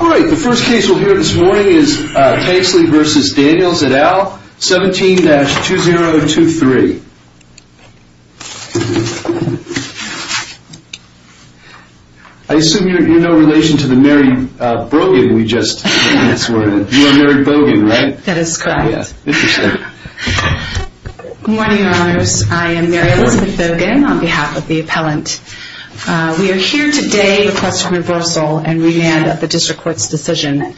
All right, the first case we'll hear this morning is Tansley v. Danielsetal, 17-2023. I assume you're in no relation to the Mary Brogan we just heard. You are Mary Brogan, right? That is correct. Yeah, interesting. Good morning, your honors. I am Mary Elizabeth Brogan on behalf of the appellant. We are here today to request a reversal and remand of the district court's decision.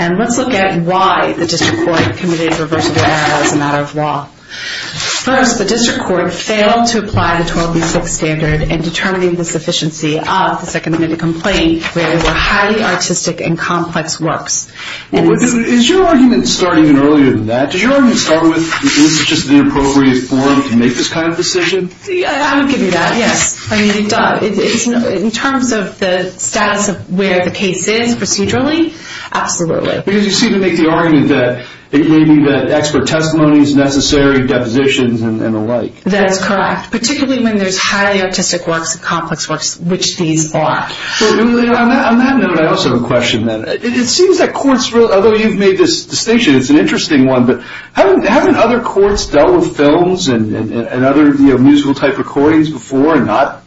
And let's look at why the district court committed a reversible error as a matter of law. First, the district court failed to apply the 12B6 standard in determining the sufficiency of the second amendment complaint where there were highly artistic and complex works. Is your argument starting even earlier than that? Does your argument start with this is just the appropriate forum to make this kind of decision? I would give you that, yes. In terms of the status of where the case is procedurally, absolutely. Because you seem to make the argument that it may be that expert testimony is necessary, depositions, and the like. That's correct, particularly when there's highly artistic works and complex works, which these are. On that note, I also have a question. It seems that courts, although you've made this distinction, it's an interesting one, but haven't other courts dealt with films and other musical type recordings before and not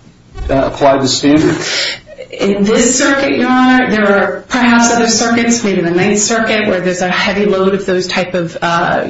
applied the standard? In this circuit, Your Honor, there are perhaps other circuits, maybe the Ninth Circuit, where there's a heavy load of those type of,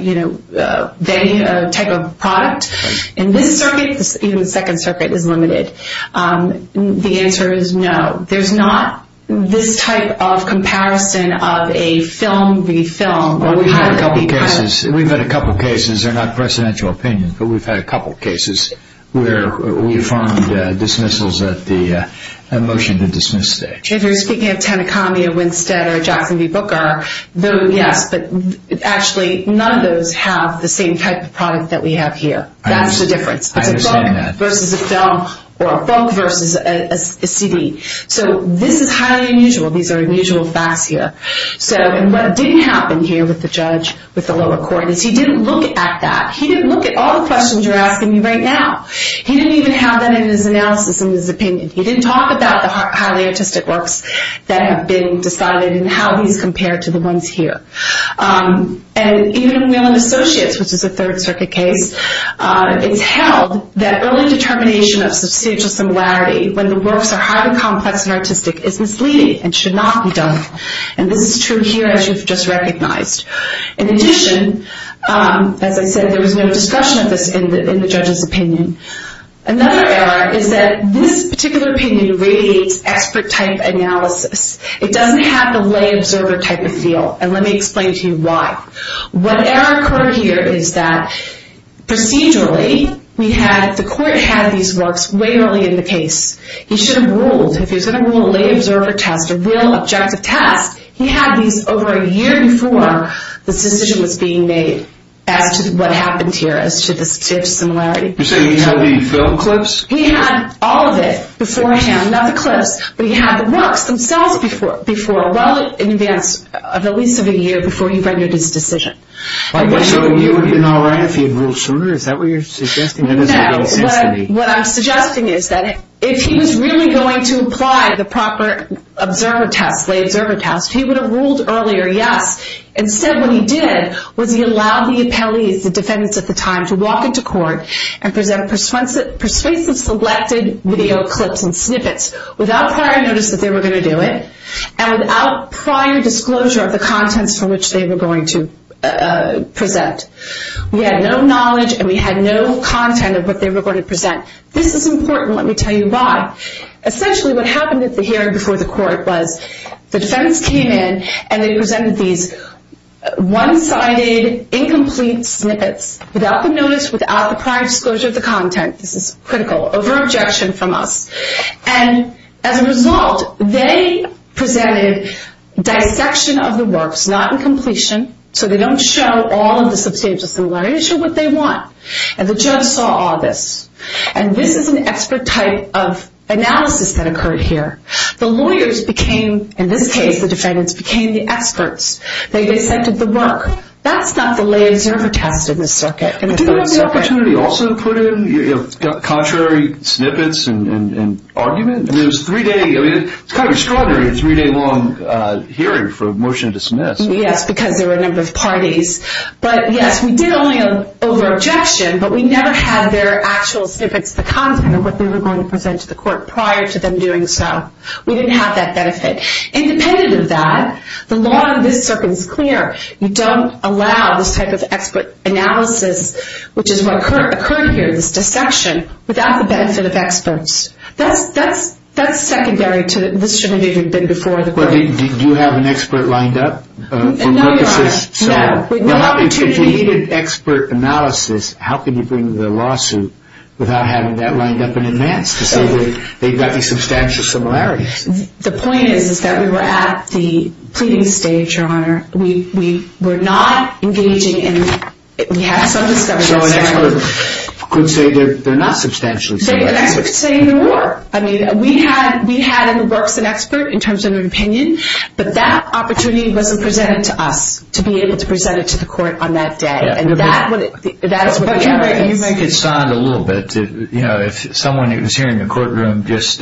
you know, type of product. In this circuit, even the Second Circuit, is limited. The answer is no. There's not this type of comparison of a film v. film. We've had a couple cases, they're not presidential opinions, but we've had a couple cases where we've found dismissals at the motion to dismiss stage. If you're speaking of Tanakami or Winstead or Jackson v. Booker, yes, but actually none of those have the same type of product that we have here. That's the difference. I understand that. It's a book versus a film, or a book versus a CD. So this is highly unusual. These are What didn't happen here with the judge, with the lower court, is he didn't look at that. He didn't look at all the questions you're asking me right now. He didn't even have that in his analysis, in his opinion. He didn't talk about the highly artistic works that have been decided and how these compare to the ones here. And even in Whelan Associates, which is a Third Circuit case, it's held that early determination of substantial similarity when the works are highly complex and artistic is misleading and should not be done. And this is true here, as you've just recognized. In addition, as I said, there was no discussion of this in the judge's opinion. Another error is that this particular opinion radiates expert-type analysis. It doesn't have the lay observer type of feel, and let me explain to you why. What error occurred here is that procedurally, the court had these works way early in the case. He should have ruled. If he was going to rule a lay observer test, a real objective test, he had these over a year before this decision was being made as to what happened here, as to the similarity. You're saying he had the film clips? He had all of it beforehand, not the clips, but he had the works themselves well in advance of at least a year before he rendered his decision. So he would have been all right if he had ruled sooner? Is that what you're suggesting? No, what I'm suggesting is that if he was really going to apply the proper lay observer test, he would have ruled earlier, yes. Instead, what he did was he allowed the appellees, the defendants at the time, to walk into court and present persuasive selected video clips and snippets without prior notice that they were going to do it, and without prior disclosure of the contents from which they were going to present. We had no knowledge and we had no content of what they were going to present. This is important. Let me tell you why. Essentially, what happened at the hearing before the court was the defendants came in and they presented these one-sided, incomplete snippets without the notice, without the prior disclosure of the content. This is critical, over-objection from us. And as a result, they presented dissection of the works, not in completion, so they don't show all of the substantial similarities or what they want. And the judge saw all this. And this is an expert type of analysis that occurred here. The lawyers became, in this case the defendants, became the experts. They dissected the work. That's not the lay observer test in the circuit. Didn't the opportunity also put in contrary snippets and arguments? It's kind of extraordinary, a three-day-long hearing for a motion to dismiss. Yes, because there were a number of parties. But, yes, we did only over-objection, but we never had their actual snippets, the content of what they were going to present to the court, prior to them doing so. We didn't have that benefit. Independent of that, the law in this circuit is clear. You don't allow this type of expert analysis, which is what occurred here, this dissection, without the benefit of experts. That's secondary to this should have even been before the court. Do you have an expert lined up? No, Your Honor, no. If you needed expert analysis, how can you bring the lawsuit without having that lined up in advance to say that they've got these substantial similarities? The point is that we were at the pleading stage, Your Honor. We were not engaging in, we had some discoveries. So an expert could say they're not substantially similar. An expert could say even more. I mean, we had in the works an expert in terms of an opinion, but that opportunity wasn't presented to us to be able to present it to the court on that day. And that is what the error is. But you make it sound a little bit, you know, if someone was here in the courtroom just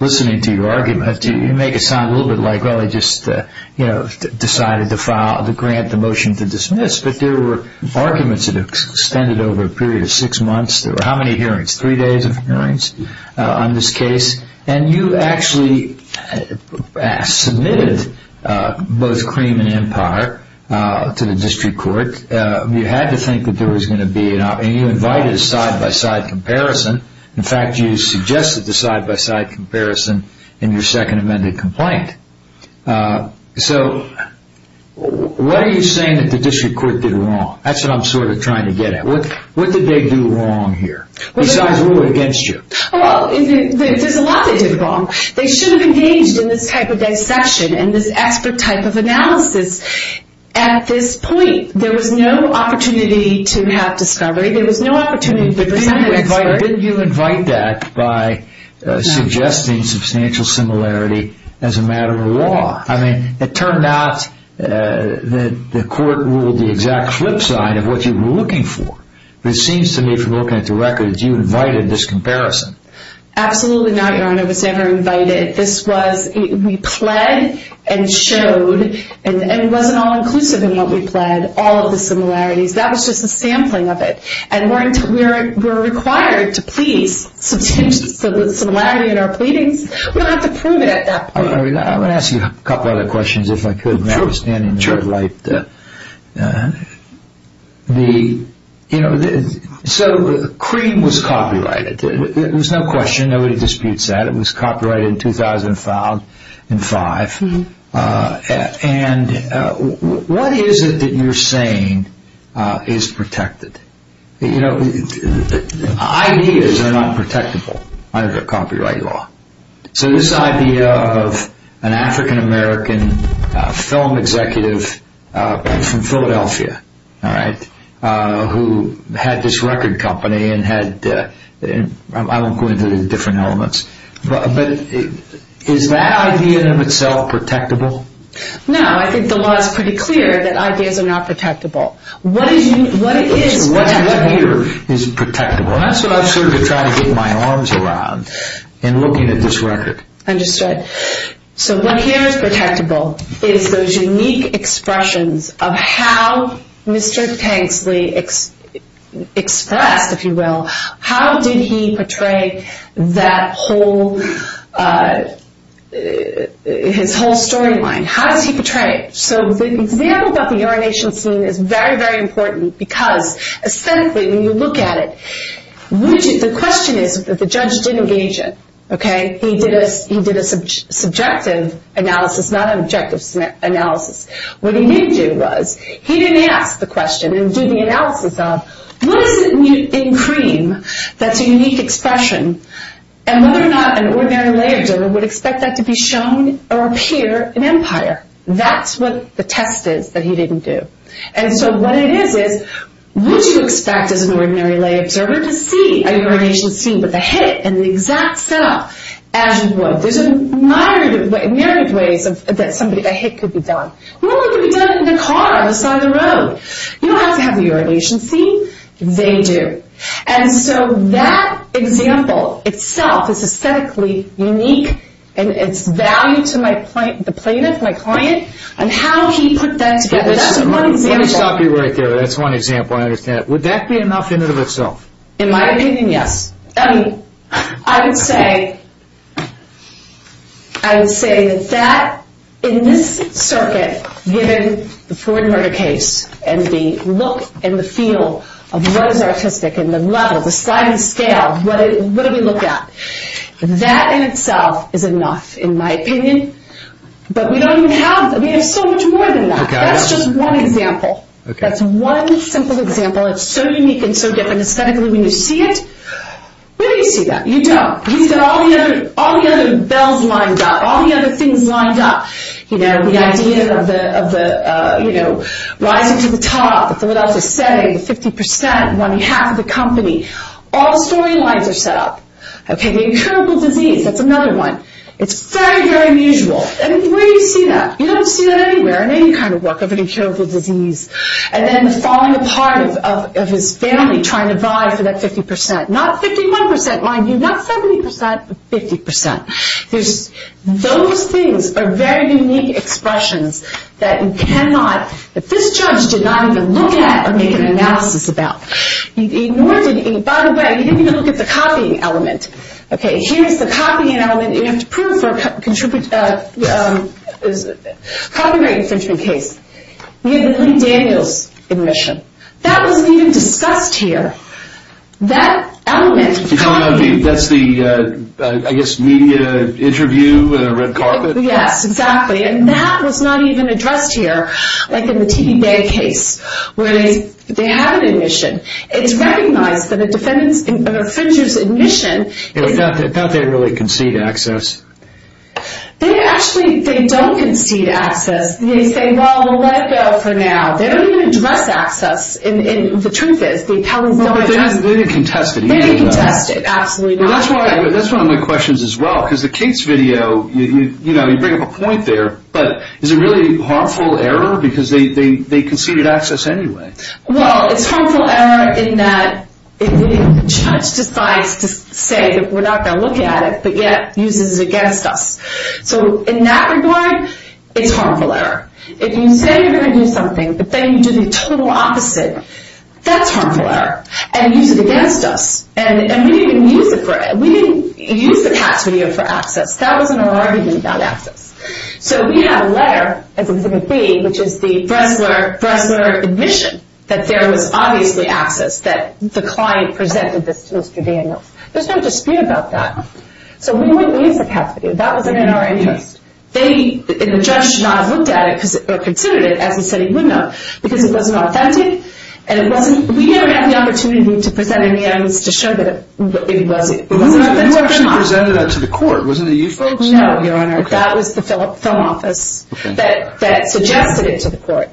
listening to your argument, you make it sound a little bit like, well, they just decided to file the grant, the motion to dismiss. But there were arguments that extended over a period of six months. There were how many hearings? Three days of hearings on this case. And you actually submitted both cream and empire to the district court. You had to think that there was going to be, and you invited a side-by-side comparison. In fact, you suggested the side-by-side comparison in your second amended complaint. So what are you saying that the district court did wrong? That's what I'm sort of trying to get at. What did they do wrong here? Besides rule it against you. Well, there's a lot they did wrong. They should have engaged in this type of dissection and this expert type of analysis. At this point, there was no opportunity to have discovery. There was no opportunity to bring that expert. But didn't you invite that by suggesting substantial similarity as a matter of law? I mean, it turned out that the court ruled the exact flip side of what you were looking for. But it seems to me from looking at the records, you invited this comparison. Absolutely not, Your Honor. It was never invited. We pled and showed, and it wasn't all inclusive in what we pled, all of the similarities. That was just a sampling of it. And we're required to please substantial similarity in our pleadings. We don't have to prove it at that point. I'm going to ask you a couple of other questions if I could. Sure. So the cream was copyrighted. There was no question. Nobody disputes that. It was copyrighted in 2005. And what is it that you're saying is protected? Ideas are not protectable under copyright law. So this idea of an African-American film executive from Philadelphia, all right, who had this record company and had, I won't go into the different elements, but is that idea in and of itself protectable? No. I think the law is pretty clear that ideas are not protectable. What it is here is protectable. Well, that's what I'm sort of trying to get my arms around in looking at this record. Understood. So what here is protectable is those unique expressions of how Mr. Tanksley expressed, if you will, how did he portray that whole, his whole storyline. How does he portray it? So the example about the urination scene is very, very important because aesthetically when you look at it, the question is that the judge didn't engage it. Okay. He did a subjective analysis, not an objective analysis. What he didn't do was he didn't ask the question and do the analysis of what is it in cream that's a unique expression and whether or not an ordinary layman would expect that to be shown or appear in Empire. That's what the test is that he didn't do. And so what it is, is would you expect as an ordinary lay observer to see a urination scene with a hit and the exact setup as you would? There's a myriad of ways that somebody, a hit could be done. Well, it could be done in a car on the side of the road. You don't have to have a urination scene. They do. And so that example itself is aesthetically unique and it's value to my client, the plaintiff, my client, and how he put that together. That's one example. Let me stop you right there. That's one example. I understand. Would that be enough in and of itself? In my opinion, yes. I mean, I would say that in this circuit, given the Floyd murder case and the look and the feel of what is artistic and the level, the size and scale, what do we look at? That in itself is enough in my opinion. But we don't even have that. We have so much more than that. That's just one example. That's one simple example. It's so unique and so different. Aesthetically, when you see it, where do you see that? You don't. We've got all the other bells lined up, all the other things lined up. You know, the idea of the, you know, rising to the top, what else is setting, 50%, one half of the company. All the storylines are set up. Okay. The incurable disease, that's another one. It's very, very unusual. I mean, where do you see that? You don't see that anywhere in any kind of work of an incurable disease. And then the falling apart of his family trying to vie for that 50%. Not 51%, mind you, not 70%, but 50%. Those things are very unique expressions that you cannot, that this judge did not even look at or make an analysis about. He ignored it. By the way, he didn't even look at the copying element. Okay. Here's the copying element. You have to prove for a copyright infringement case. We had the Lee Daniels admission. That wasn't even discussed here. That element. You're talking about the, that's the, I guess, media interview in a red carpet? Yes, exactly. And that was not even addressed here, like in the T.B. Bay case, where they had an admission. It's recognized that a defendant's, an offender's admission. It's not that they really concede access. They actually, they don't concede access. They say, well, let it go for now. They don't even address access. And the truth is, the appellant's going after it. They didn't contest it either, though. They didn't contest it, absolutely not. That's one of my questions as well, because the case video, you know, you bring up a point there, but is it really a harmful error because they conceded access anyway? Well, it's harmful error in that the judge decides to say that we're not going to look at it, but yet uses it against us. So in that regard, it's harmful error. If you say you're going to do something, but then you do the total opposite, that's harmful error. And use it against us. And we didn't even use it for it. We didn't use the past video for access. That wasn't our argument about access. So we have a letter, as it would be, which is the Bressler admission that there was obviously access, that the client presented this to Mr. Daniels. There's no dispute about that. So we wouldn't use the past video. That wasn't in our interest. And the judge should not have looked at it or considered it as he said he would not, because it wasn't authentic. And we didn't have the opportunity to present it in the evidence to show that it wasn't authentic or not. You actually presented that to the court, wasn't it you folks? No, Your Honor. That was the film office that suggested it to the court.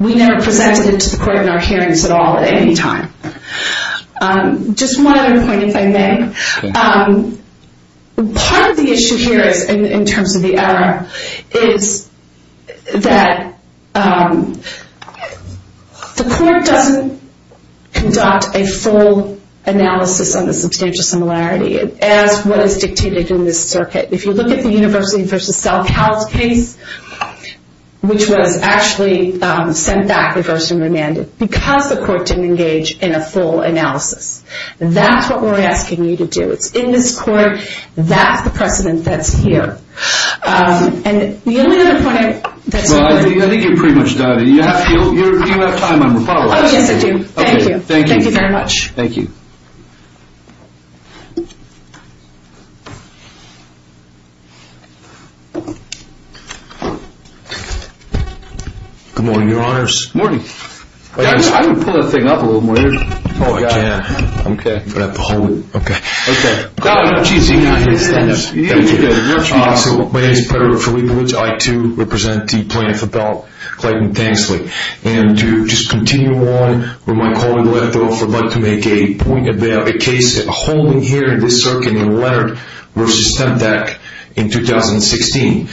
We never presented it to the court in our hearings at all at any time. Just one other point, if I may. Part of the issue here in terms of the error is that the court doesn't conduct a full analysis on the substantial similarity as what is dictated in this circuit. If you look at the University v. Selk House case, which was actually sent back, reversed, and remanded, because the court didn't engage in a full analysis. That's what we're asking you to do. It's in this court. That's the precedent that's here. And the only other point I have. Well, I think you're pretty much done. Do you have time? Yes, I do. Thank you. Thank you very much. Thank you. Good morning, Your Honors. Good morning. Guys, I'm going to pull that thing up a little more. Oh, I can't. Okay. I'm going to have to hold it. Okay. Okay. Oh, jeez. Stand up. Thank you. My name is Pedro Felipowicz. I, too, represent the plaintiff about Clayton Thanksley. And to just continue on where my colleague left off, I'd like to make a point about a case holding here in this circuit in Leonard v. Temtec in 2016.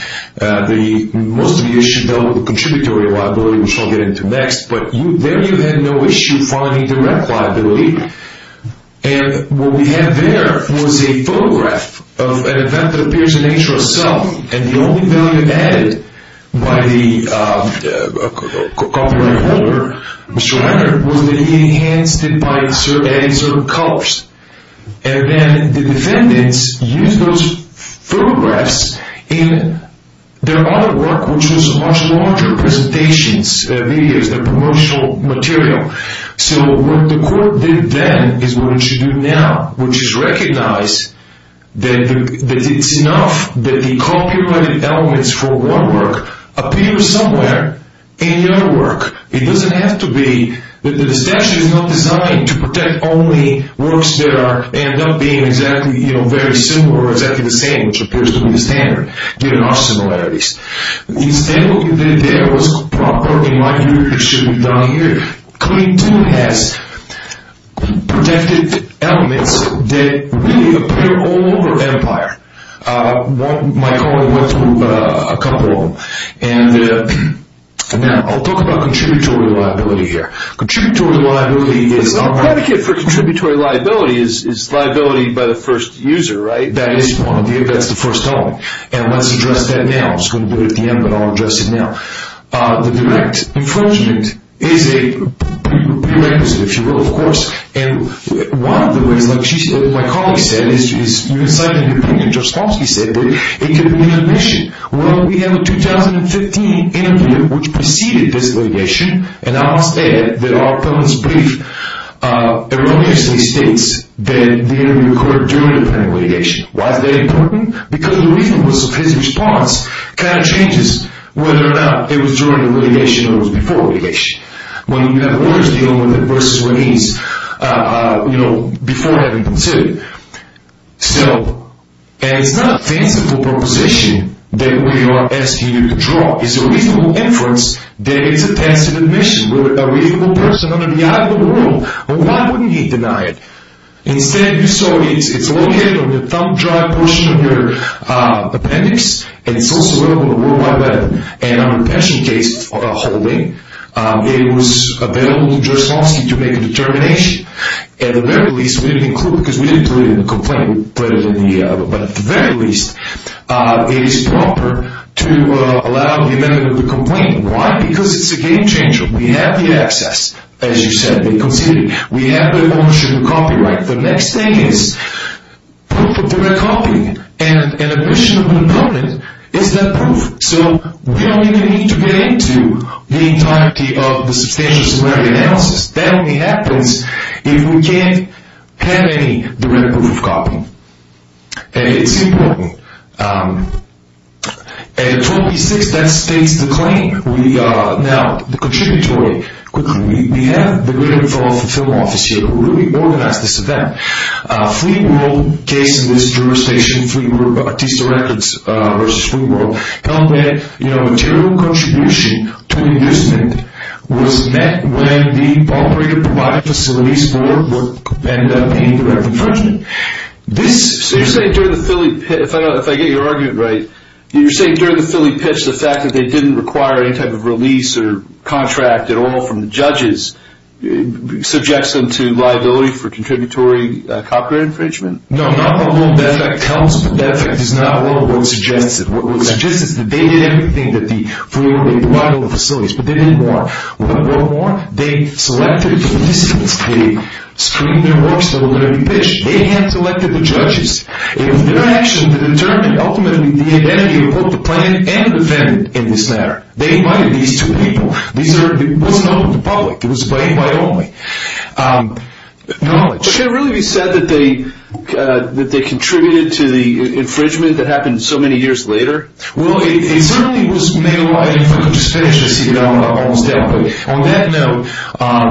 Most of you should know the contributory liability, which I'll get into next. But there you had no issue finding direct liability. And what we have there was a photograph of an event that appears in nature itself. And the only value added by the copyright holder, Mr. Leonard, was that he enhanced it by adding certain colors. And then the defendants used those photographs in their other work, which was much larger presentations, videos, the promotional material. So what the court did then is what it should do now, which is recognize that it's enough that the copyrighted elements for one work appear somewhere in the other work. It doesn't have to be that the statute is not designed to protect only works that end up being exactly, you know, very similar or exactly the same, which appears to be the standard, given our similarities. Instead of looking at the evidence properly, like you should have done here, Coding 2 has protective elements that really appear all over Empire. My colleague went through a couple of them. And now I'll talk about contributory liability here. Contributory liability is not... But the predicate for contributory liability is liability by the first user, right? That is one idea. That's the first element. And let's address that now. I was going to do it at the end, but I'll address it now. The direct infringement is a prerequisite, if you will, of course. And one of the ways, like my colleague said, is you can cite an opinion, Judge Smolski said, but it could be an admission. Well, we have a 2015 interview, which preceded this litigation, and I must add that our opponent's brief erroneously states that the interview occurred during the pending litigation. Why is that important? Because the reasonableness of his response kind of changes whether or not it was during the litigation or it was before litigation, when you have lawyers dealing with it versus when he's, you know, before having considered it. So it's not a tensive proposition that we are asking you to draw. It's a reasonable inference that it's a tensive admission. We're a reasonable person under the eye of the law. Why wouldn't he deny it? Instead, you saw it's located on the thumb drive portion of your appendix, and it's also available on the World Wide Web. And on the pension case holding, it was available to Judge Smolski to make a determination. At the very least, we didn't include it because we didn't put it in the complaint, but at the very least, it is proper to allow the amendment of the complaint. Why? Because it's a game changer. We have the access, as you said, they considered it. We have the ownership and copyright. The next thing is proof of direct copy. And an admission of an opponent is that proof. So we don't even need to get into the entirety of the substantial summary analysis. That only happens if we can't have any direct proof of copy. And it's important. At 26, that states the claim. Now, the contributory. Quickly, we have the written film officer who really organized this event. Fleet World case in this jurisdiction, Fleet World Artista Records versus Fleet World, held that material contribution to the amusement was met when the operator provided facilities for work and paid direct infringement. So you're saying during the Philly pitch, if I get your argument right, you're saying during the Philly pitch, the fact that they didn't require any type of release or contract at all from the judges, subjects them to liability for contributory copyright infringement? No, not that effect counts, but that effect is not what was suggested. What was suggested is that they did everything that the Fleet World provided all the facilities, but they didn't want. What did they want? They selected the participants. They screened their works that were going to be pitched. They hand-selected the judges. It was their action that determined ultimately the identity of both the plaintiff and defendant in this matter. They invited these two people. It wasn't open to the public. It was play-by-only knowledge. But can it really be said that they contributed to the infringement that happened so many years later? Well, it certainly was made light, if I could just finish this, you know, almost definitely. On that note,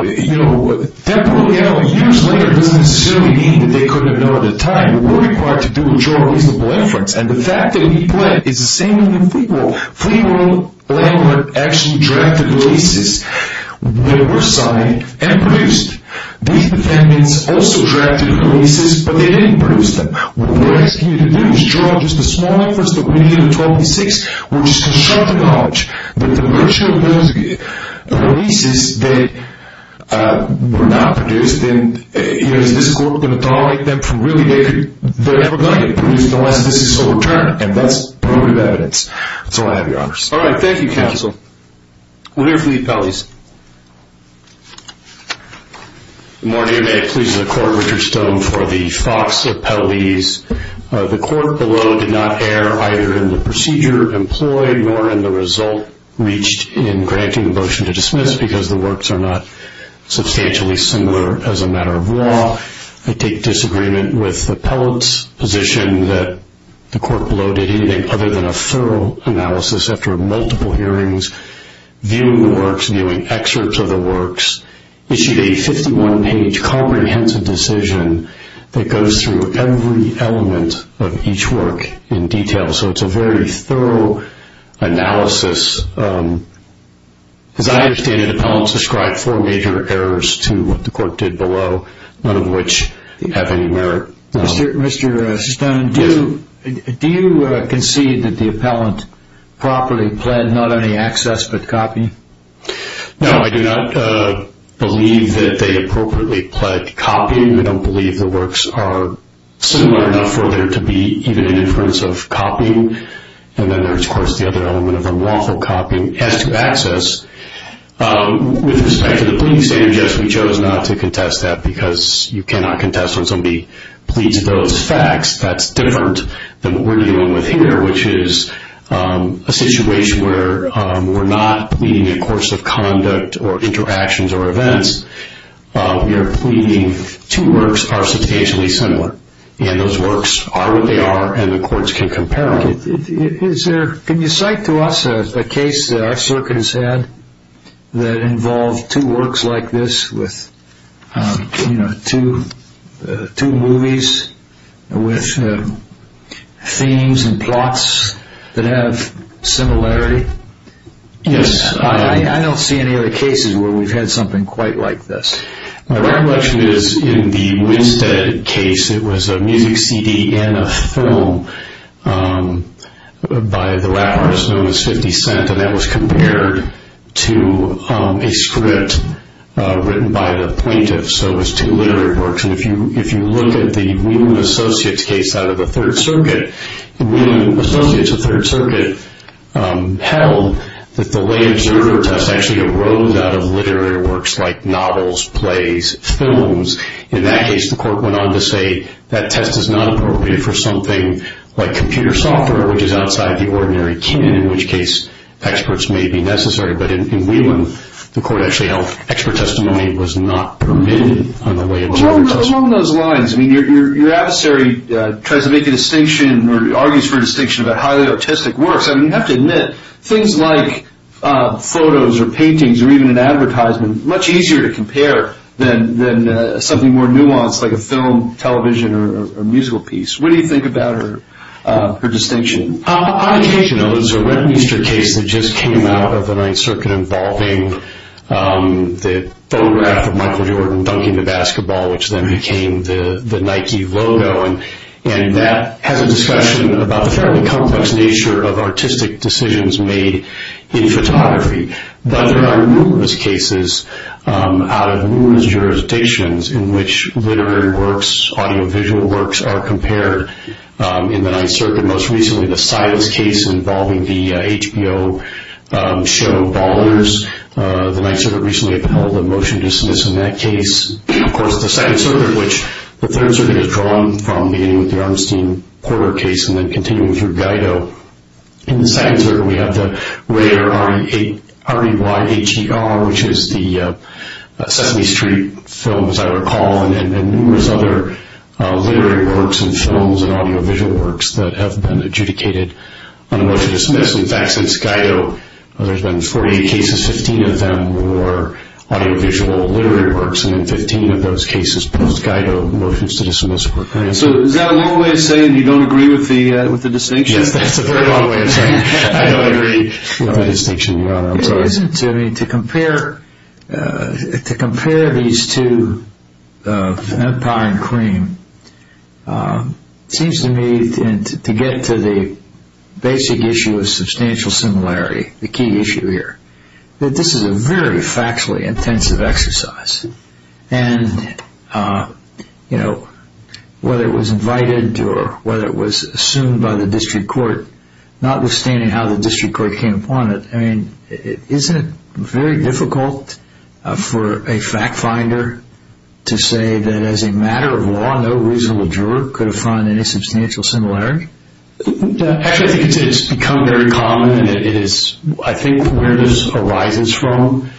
you know, years later doesn't necessarily mean that they couldn't have known at the time. They were required to do a juror-reasonable inference, and the fact that he pled is the same in Fleet World. Fleet World landlord actually drafted the leases that were signed and produced. These defendants also drafted the leases, but they didn't produce them. What they were asking you to do is draw just a small inference that we needed in 1286, which is constructive knowledge. But the virtue of those leases that were not produced and, you know, is this court going to tolerate them from really later? They're never going to be produced unless this is overturned, and that's probative evidence. That's all I have, Your Honors. All right. Thank you, Counsel. We'll hear from the appellees. Good morning. May it please the Court, Richard Stone for the Fox appellees. The court below did not err either in the procedure employed nor in the result reached in granting the motion to dismiss because the works are not substantially similar as a matter of law. I take disagreement with the appellate's position that the court below did anything other than a thorough analysis after multiple hearings, viewing the works, viewing excerpts of the works, issued a 51-page comprehensive decision that goes through every element of each work in detail. So it's a very thorough analysis. As I understand it, the appellant described four major errors to what the court did below, none of which have any merit. Mr. Stone, do you concede that the appellant properly pled not only access but copy? No, I do not believe that they appropriately pled copying. I don't believe the works are similar enough for there to be even an inference of copying. And then there's, of course, the other element of unlawful copying as to access. With respect to the pleading standard, yes, we chose not to contest that because you cannot contest when somebody pleads those facts. That's different than what we're dealing with here, which is a situation where we're not pleading a course of conduct or interactions or events. We are pleading two works are substantially similar, and those works are what they are and the courts can compare them. Can you cite to us a case that our circuit has had that involved two works like this with two movies with themes and plots that have similarity? Yes. I don't see any other cases where we've had something quite like this. My recollection is in the Winstead case, it was a music CD and a film by the rappers known as 50 Cent, and that was compared to a script written by the plaintiff, so it was two literary works. And if you look at the Whedon & Associates case out of the Third Circuit, the Whedon & Associates of Third Circuit held that the lay In that case, the court went on to say that test is not appropriate for something like computer software, which is outside the ordinary canon, in which case experts may be necessary. But in Whedon, the court actually held expert testimony was not permitted on the way. Along those lines, I mean, your adversary tries to make a distinction or argues for a distinction about highly autistic works. I mean, you have to admit things like photos or paintings or even an advertisement are much easier to compare than something more nuanced like a film, television, or musical piece. What do you think about her distinction? On occasion, there was a Westminster case that just came out of the Ninth Circuit involving the photograph of Michael Jordan dunking the basketball, which then became the Nike logo, and that has a discussion about the fairly complex nature of artistic decisions made in photography. But there are numerous cases out of numerous jurisdictions in which literary works, audiovisual works are compared. In the Ninth Circuit, most recently the Silas case involving the HBO show Ballers. The Ninth Circuit recently upheld a motion to dismiss in that case. Of course, the Second Circuit, which the Third Circuit has drawn from beginning with the Armstein-Porter case and then continuing through Guido. In the Second Circuit, we have the rare R-E-Y-H-E-R, which is the Sesame Street film, as I recall, and numerous other literary works and films and audiovisual works that have been adjudicated on a motion to dismiss. In fact, since Guido, there's been 48 cases, 15 of them were audiovisual literary works, and then 15 of those cases, post-Guido, motions to dismiss. So is that a long way of saying you don't agree with the distinction? Yes, that's a very long way of saying I don't agree with the distinction, Your Honor. It isn't. I mean, to compare these two, Empire and Cream, seems to me, to get to the basic issue of substantial similarity, the key issue here, that this is a very factually intensive exercise. And, you know, whether it was invited or whether it was assumed by the district court, notwithstanding how the district court came upon it, I mean, isn't it very difficult for a fact finder to say that as a matter of law, no reasonable juror could have found any substantial similarity? Actually, I think it's become very common, and it is, I think, where this arises from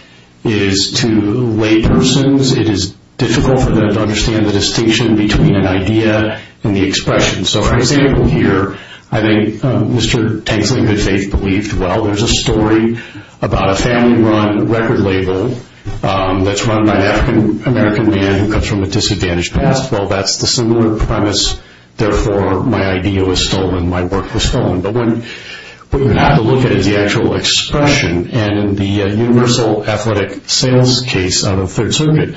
is to lay persons, it is difficult for them to understand the distinction between an idea and the expression. So, for example here, I think Mr. Tanksley, in good faith, believed, well, there's a story about a family run record label that's run by an African American man who comes from a disadvantaged past. Well, that's the similar premise, therefore, my idea was stolen, my work was stolen. But what you have to look at is the actual expression, and in the universal athletic sales case of the Third Circuit,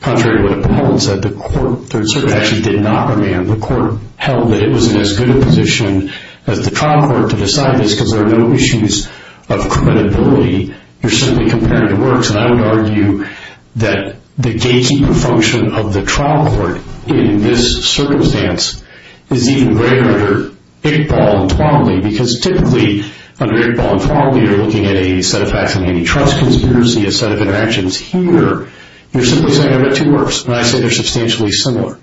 contrary to what Paul said, the court, the Third Circuit actually did not command, the court held that it was in as good a position as the trial court to decide this because there are no issues of credibility. You're simply comparing the works, and I would argue that the gatekeeper function of the trial court in this circumstance is even greater under Iqbal and Twombly, because typically, under Iqbal and Twombly, you're looking at a set of facts of antitrust conspiracy, a set of interactions. Here, you're simply saying I read two works, and I say they're substantially similar.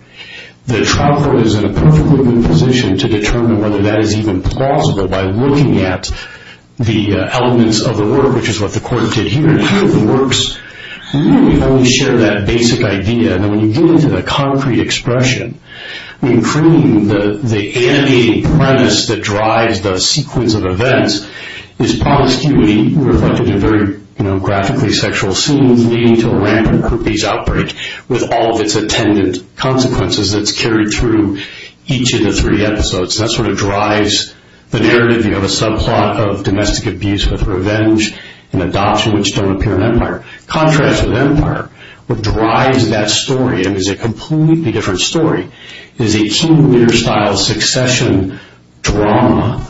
The trial court is in a perfectly good position to determine whether that is even plausible by looking at the elements of the work, which is what the court did here, and here, the works really only share that basic idea, and when you get into the concrete expression, the animating premise that drives the sequence of events is promiscuity, reflected in very graphically sexual scenes leading to a rampant groupies outbreak, with all of its attendant consequences that's carried through each of the three episodes. That sort of drives the narrative. You have a subplot of domestic abuse with revenge and adoption, which don't appear in Empire. Contrast with Empire, what drives that story, and it's a completely different story, is a King Lear-style succession drama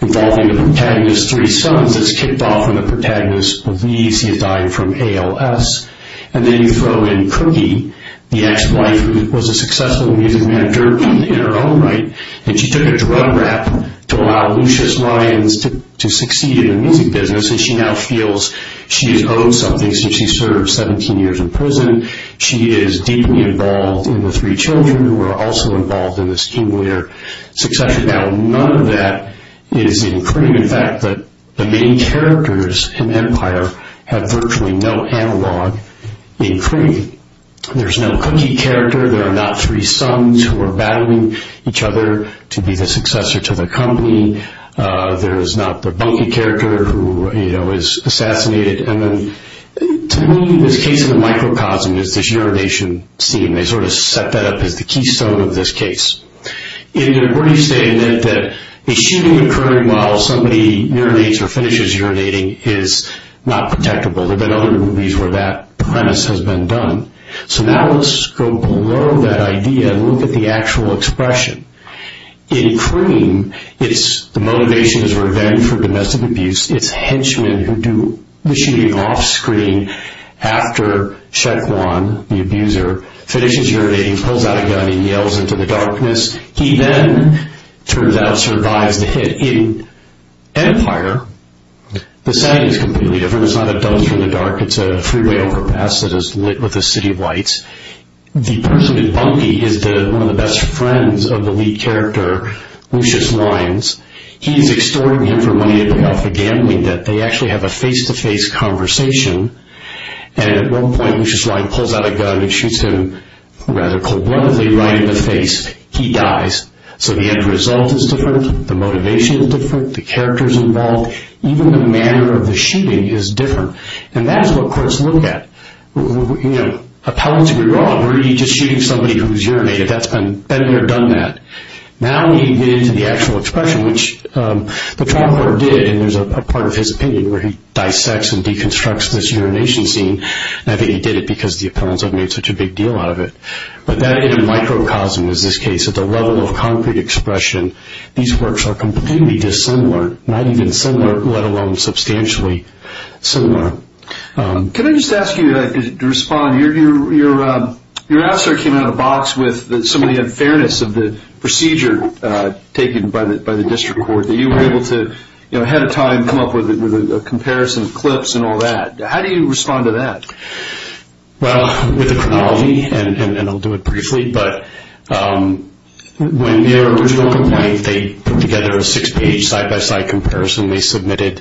involving the protagonist's three sons that's kicked off when the protagonist believes he has died from ALS, and then you throw in Cookie, the ex-wife who was a successful music manager in her own right, and she took a drug rap to allow Lucius Lyons to succeed in the music business, and she now feels she has owed something since she served 17 years in prison. She is deeply involved in the three children, who are also involved in this King Lear succession. Now, none of that is in Kring. In fact, the main characters in Empire have virtually no analog in Kring. There's no Cookie character. There are not three sons who are battling each other to be the successor to the company. There is not the Bunky character who is assassinated. To me, this case of the microcosm is this urination scene. They sort of set that up as the keystone of this case. In their brief statement, a shooting occurring while somebody urinates or finishes urinating is not protectable. There have been other movies where that premise has been done. So now let's go below that idea and look at the actual expression. In Kring, the motivation is revenge for domestic abuse. It's henchmen who do the shooting offscreen after Shek Wan, the abuser, finishes urinating, pulls out a gun, and yells into the darkness. He then, turns out, survives the hit. In Empire, the setting is completely different. It's not a dungeon in the dark. It's a freeway overpass that is lit with a city of lights. The person in Bunky is one of the best friends of the lead character, Lucius Lyons. He is extorting him for money to pay off the gambling debt. They actually have a face-to-face conversation. At one point, Lucius Lyons pulls out a gun and shoots him rather cold-bloodedly right in the face. He dies. So the end result is different. The motivation is different. The characters involved. Even the manner of the shooting is different. And that is what courts look at. Appellants can go, Oh, we're just shooting somebody who's urinated. That's been better done than that. Now we get into the actual expression, which the trauma court did, and there's a part of his opinion where he dissects and deconstructs this urination scene. I think he did it because the appellants have made such a big deal out of it. But that in a microcosm is this case. At the level of concrete expression, these works are completely dissimilar. Not even similar, let alone substantially similar. Can I just ask you to respond? Your answer came out of the box with some of the unfairness of the procedure taken by the district court. You were able to, ahead of time, come up with a comparison of clips and all that. How do you respond to that? Well, with the chronology, and I'll do it briefly, but when their original complaint, they put together a six-page side-by-side comparison. They submitted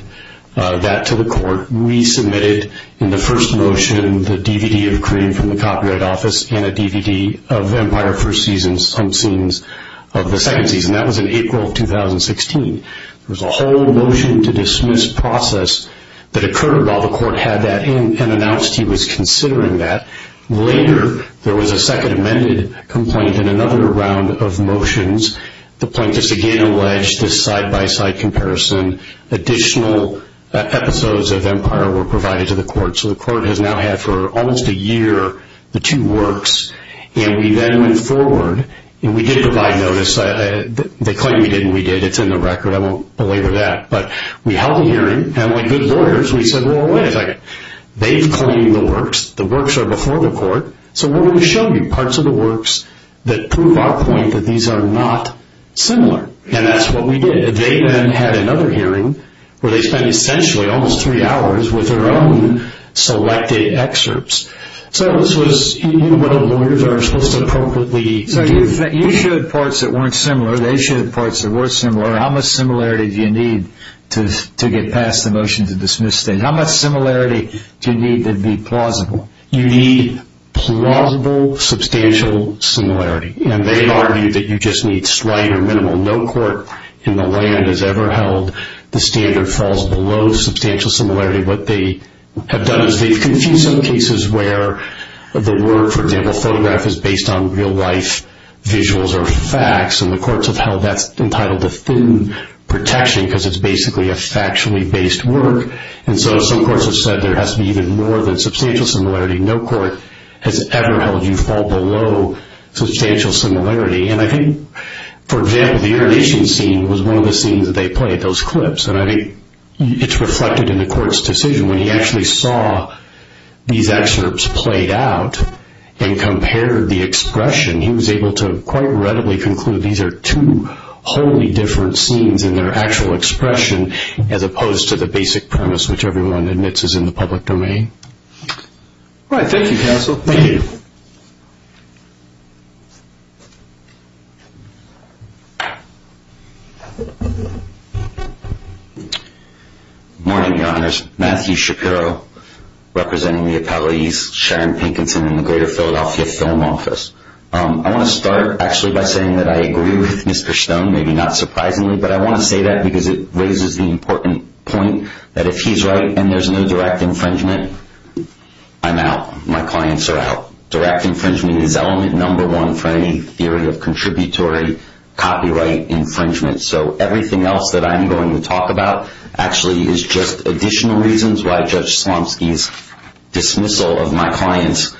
that to the court. The court resubmitted in the first motion the DVD of cream from the Copyright Office and a DVD of Empire first season, some scenes of the second season. That was in April of 2016. There was a whole motion to dismiss process that occurred while the court had that in and announced he was considering that. Later, there was a second amended complaint and another round of motions. The plaintiffs again alleged this side-by-side comparison, and additional episodes of Empire were provided to the court. So the court has now had for almost a year the two works. And we then went forward, and we did provide notice. They claim we did, and we did. It's in the record. I won't belabor that. But we held a hearing, and like good lawyers, we said, well, wait a second. They've claimed the works. The works are before the court. So what do we show you? Parts of the works that prove our point that these are not similar. And that's what we did. They then had another hearing where they spent essentially almost three hours with their own selected excerpts. So this was whether lawyers are supposed to appropriately. So you showed parts that weren't similar. They showed parts that were similar. How much similarity do you need to get past the motion to dismiss things? How much similarity do you need to be plausible? You need plausible, substantial similarity. And they argued that you just need slight or minimal. No court in the land has ever held the standard falls below substantial similarity. What they have done is they've confused some cases where the work, for example, photograph is based on real life visuals or facts, and the courts have held that's entitled to thin protection because it's basically a factually based work. And so some courts have said there has to be even more than substantial similarity. No court has ever held you fall below substantial similarity. And I think, for example, the urination scene was one of the scenes that they played, those clips. And I think it's reflected in the court's decision. When he actually saw these excerpts played out and compared the expression, he was able to quite readily conclude these are two wholly different scenes in their actual expression as opposed to the basic premise which everyone admits is in the public domain. All right. Thank you, counsel. Thank you. Good morning, Your Honors. Matthew Shapiro representing the accolades, Sharon Pinkinson in the Greater Philadelphia Film Office. I want to start actually by saying that I agree with Mr. Stone, maybe not surprisingly, but I want to say that because it raises the important point that if he's right and there's no direct infringement, I'm out. My clients are out. Direct infringement is element number one for any theory of contributory copyright infringement. So everything else that I'm going to talk about actually is just additional reasons why Judge Slomski's dismissal of my clients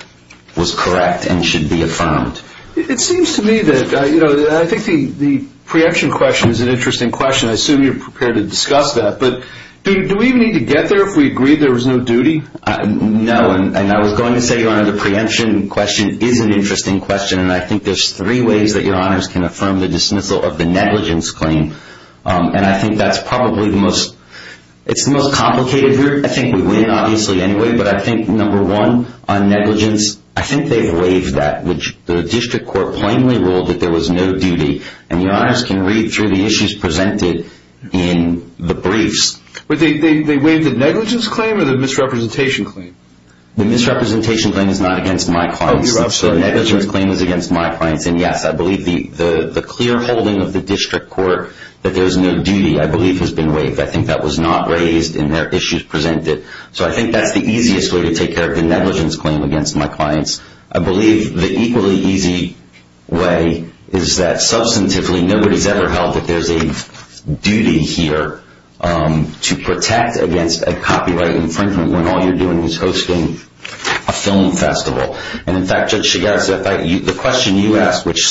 was correct and should be affirmed. It seems to me that I think the preemption question is an interesting question. I assume you're prepared to discuss that. But do we need to get there if we agree there was no duty? No. And I was going to say, Your Honor, the preemption question is an interesting question. And I think there's three ways that Your Honors can affirm the dismissal of the negligence claim. And I think that's probably the most complicated here. I think we win, obviously, anyway. But I think number one on negligence, I think they've waived that. The district court plainly ruled that there was no duty. And Your Honors can read through the issues presented in the briefs. They waived the negligence claim or the misrepresentation claim? The misrepresentation claim is not against my clients. The negligence claim is against my clients. And, yes, I believe the clear holding of the district court that there's no duty, I believe, has been waived. I think that was not raised in their issues presented. So I think that's the easiest way to take care of the negligence claim against my clients. I believe the equally easy way is that substantively nobody's ever held that there's a duty here to protect against a copyright infringement when all you're doing is hosting a film festival. And, in fact, Judge Shigata, the question you asked, which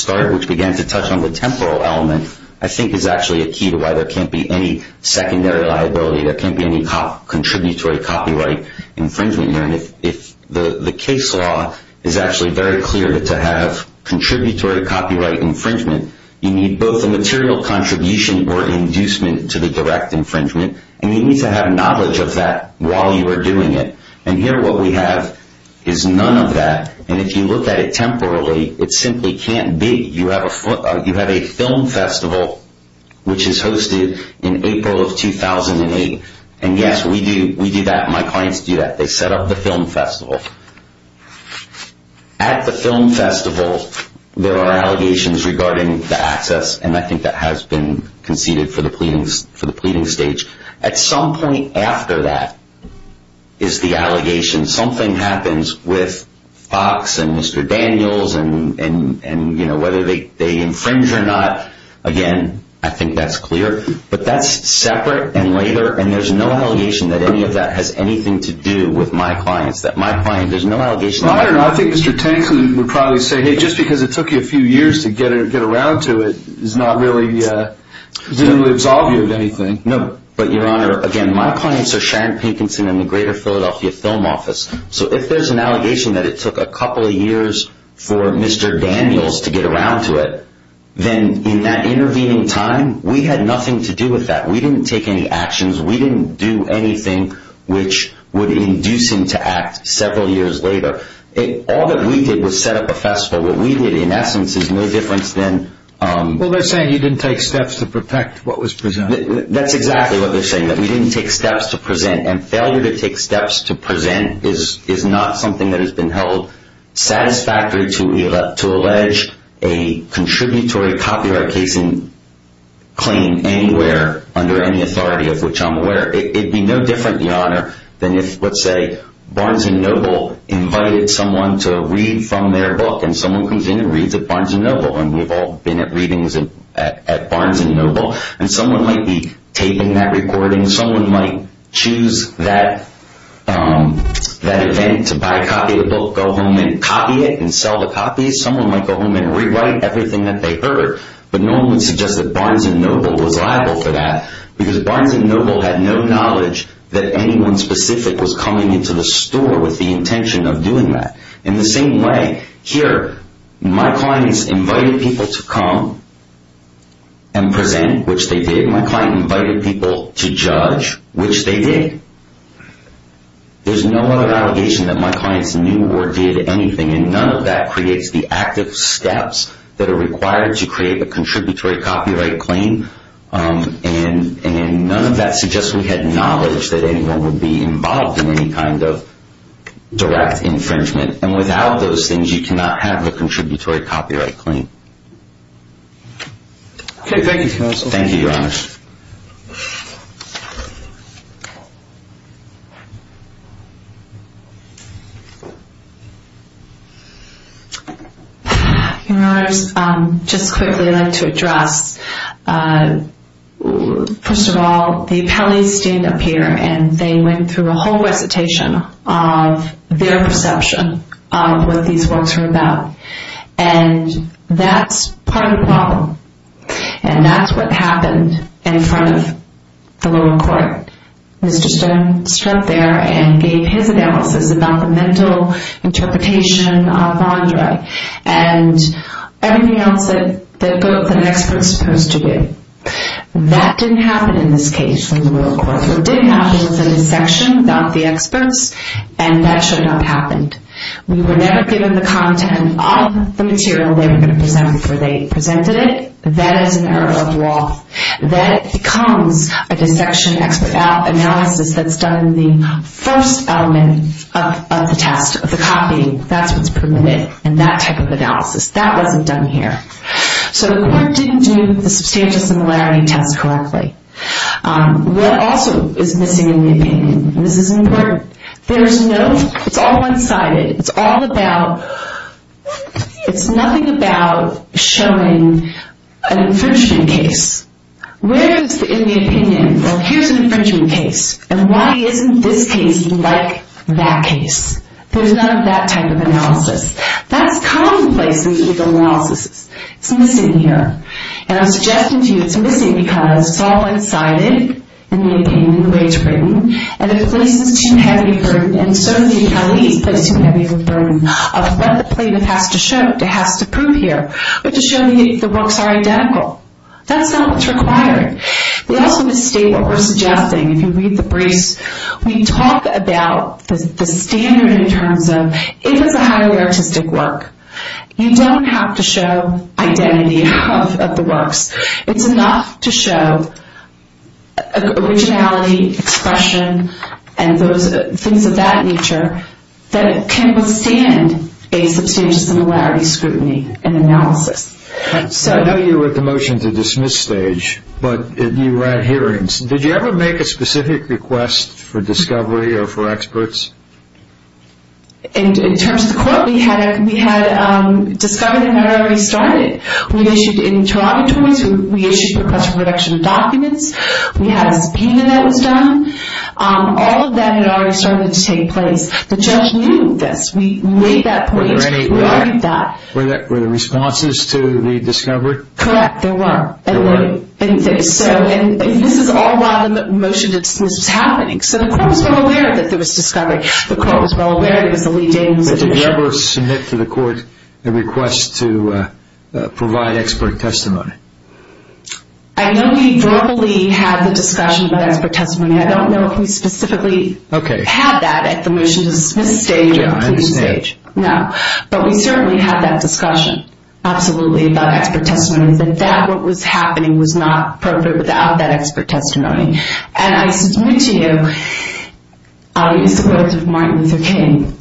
began to touch on the temporal element, I think is actually a key to why there can't be any secondary liability, there can't be any contributory copyright infringement here. And if the case law is actually very clear that to have contributory copyright infringement, you need both a material contribution or an inducement to the direct infringement, and you need to have knowledge of that while you are doing it. And here what we have is none of that. And if you look at it temporally, it simply can't be. You have a film festival which is hosted in April of 2008. And, yes, we do that. My clients do that. They set up the film festival. At the film festival, there are allegations regarding the access, and I think that has been conceded for the pleading stage. At some point after that is the allegation. Something happens with Fox and Mr. Daniels and, you know, whether they infringe or not. Again, I think that's clear. But that's separate and later, and there's no allegation that any of that has anything to do with my clients. There's no allegation. I don't know. I think Mr. Tanks would probably say, hey, just because it took you a few years to get around to it doesn't really absolve you of anything. No. But, Your Honor, again, my clients are Sharon Pinkinson and the Greater Philadelphia Film Office. So if there's an allegation that it took a couple of years for Mr. Daniels to get around to it, then in that intervening time, we had nothing to do with that. We didn't take any actions. We didn't do anything which would induce him to act several years later. All that we did was set up a festival. What we did, in essence, is no difference than— Well, they're saying you didn't take steps to protect what was presented. That's exactly what they're saying, that we didn't take steps to present, and failure to take steps to present is not something that has been held satisfactory to allege a contributory copyright-casing claim anywhere under any authority of which I'm aware. It would be no different, Your Honor, than if, let's say, Barnes & Noble invited someone to read from their book, and someone comes in and reads at Barnes & Noble, and we've all been at readings at Barnes & Noble, and someone might be taping that recording. Someone might choose that event to buy a copy of the book, go home and copy it and sell the copies. Someone might go home and rewrite everything that they heard, but no one would suggest that Barnes & Noble was liable for that because Barnes & Noble had no knowledge that anyone specific was coming into the store with the intention of doing that. In the same way, here, my clients invited people to come and present, which they did. Here, my client invited people to judge, which they did. There's no other allegation that my clients knew or did anything, and none of that creates the active steps that are required to create a contributory copyright claim, and none of that suggests we had knowledge that anyone would be involved in any kind of direct infringement. And without those things, you cannot have a contributory copyright claim. Okay, thank you, counsel. Thank you, Your Honors. Your Honors, just quickly, I'd like to address, first of all, the appellees stand up here and they went through a whole recitation of their perception of what these works were about, and that's part of the problem, and that's what happened in front of the lower court. Mr. Stone stood there and gave his analysis about the mental interpretation of Andre and everything else that an expert is supposed to do. That didn't happen in this case in the lower court. What did happen was that a section got the experts, and that should not have happened. We were never given the content of the material they were going to present before they presented it. That is an error of law. That becomes a dissection analysis that's done in the first element of the test, of the copying. That's what's permitted in that type of analysis. That wasn't done here. So the court didn't do the substantial similarity test correctly. What also is missing in the opinion, and this is important, there's no, it's all one-sided. It's all about, it's nothing about showing an infringement case. Where is the opinion? Well, here's an infringement case, and why isn't this case like that case? There's none of that type of analysis. That's commonplace in legal analysis. It's missing here, and I'm suggesting to you it's missing because it's all one-sided in the opinion, in the way it's written, and it places too heavy a burden, and so do the accolades place too heavy of a burden of what the plaintiff has to show, has to prove here, but to show that the works are identical. That's not what's required. We also misstate what we're suggesting. If you read the briefs, we talk about the standard in terms of if it's a highly artistic work, you don't have to show identity of the works. It's enough to show originality, expression, and things of that nature that can withstand a substantial similarity scrutiny and analysis. I know you were at the motion to dismiss stage, but you ran hearings. Did you ever make a specific request for discovery or for experts? In terms of the court, we had discovered him whenever we started. We issued interrogatories. We issued a request for production of documents. We had a subpoena that was done. All of that had already started to take place. The judge knew this. We made that point. Were there any responses to the discovery? Correct, there were. There were? And this is all while the motion to dismiss was happening, so the court was well aware that there was discovery. The court was well aware that it was a Lee Daniels addition. Did you ever submit to the court a request to provide expert testimony? I know we verbally had the discussion about expert testimony. I don't know if we specifically had that at the motion to dismiss stage. I understand. No, but we certainly had that discussion, absolutely, about expert testimony, but what was happening was not appropriate without that expert testimony. And I submit to you, I'll use the words of Martin Luther King,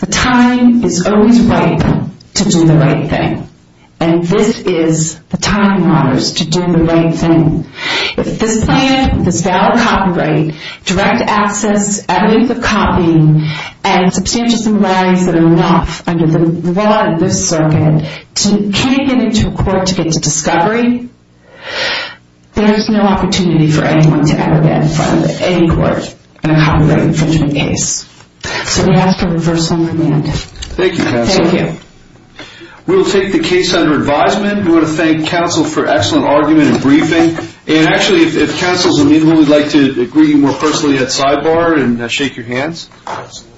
the time is always ripe to do the right thing, and this is the time and hours to do the right thing. If this plan, this valid copyright, direct access, evidence of copying, and substantial similarities that are enough under the law in this circuit can't get into a court to get to discovery, there's no opportunity for anyone to ever get in front of any court and accommodate infringement case. So we ask for reversal of command. Thank you, counsel. Thank you. We will take the case under advisement. We want to thank counsel for excellent argument and briefing. And actually, if counsel is amenable, we'd like to greet you more personally at sidebar and shake your hands. Absolutely.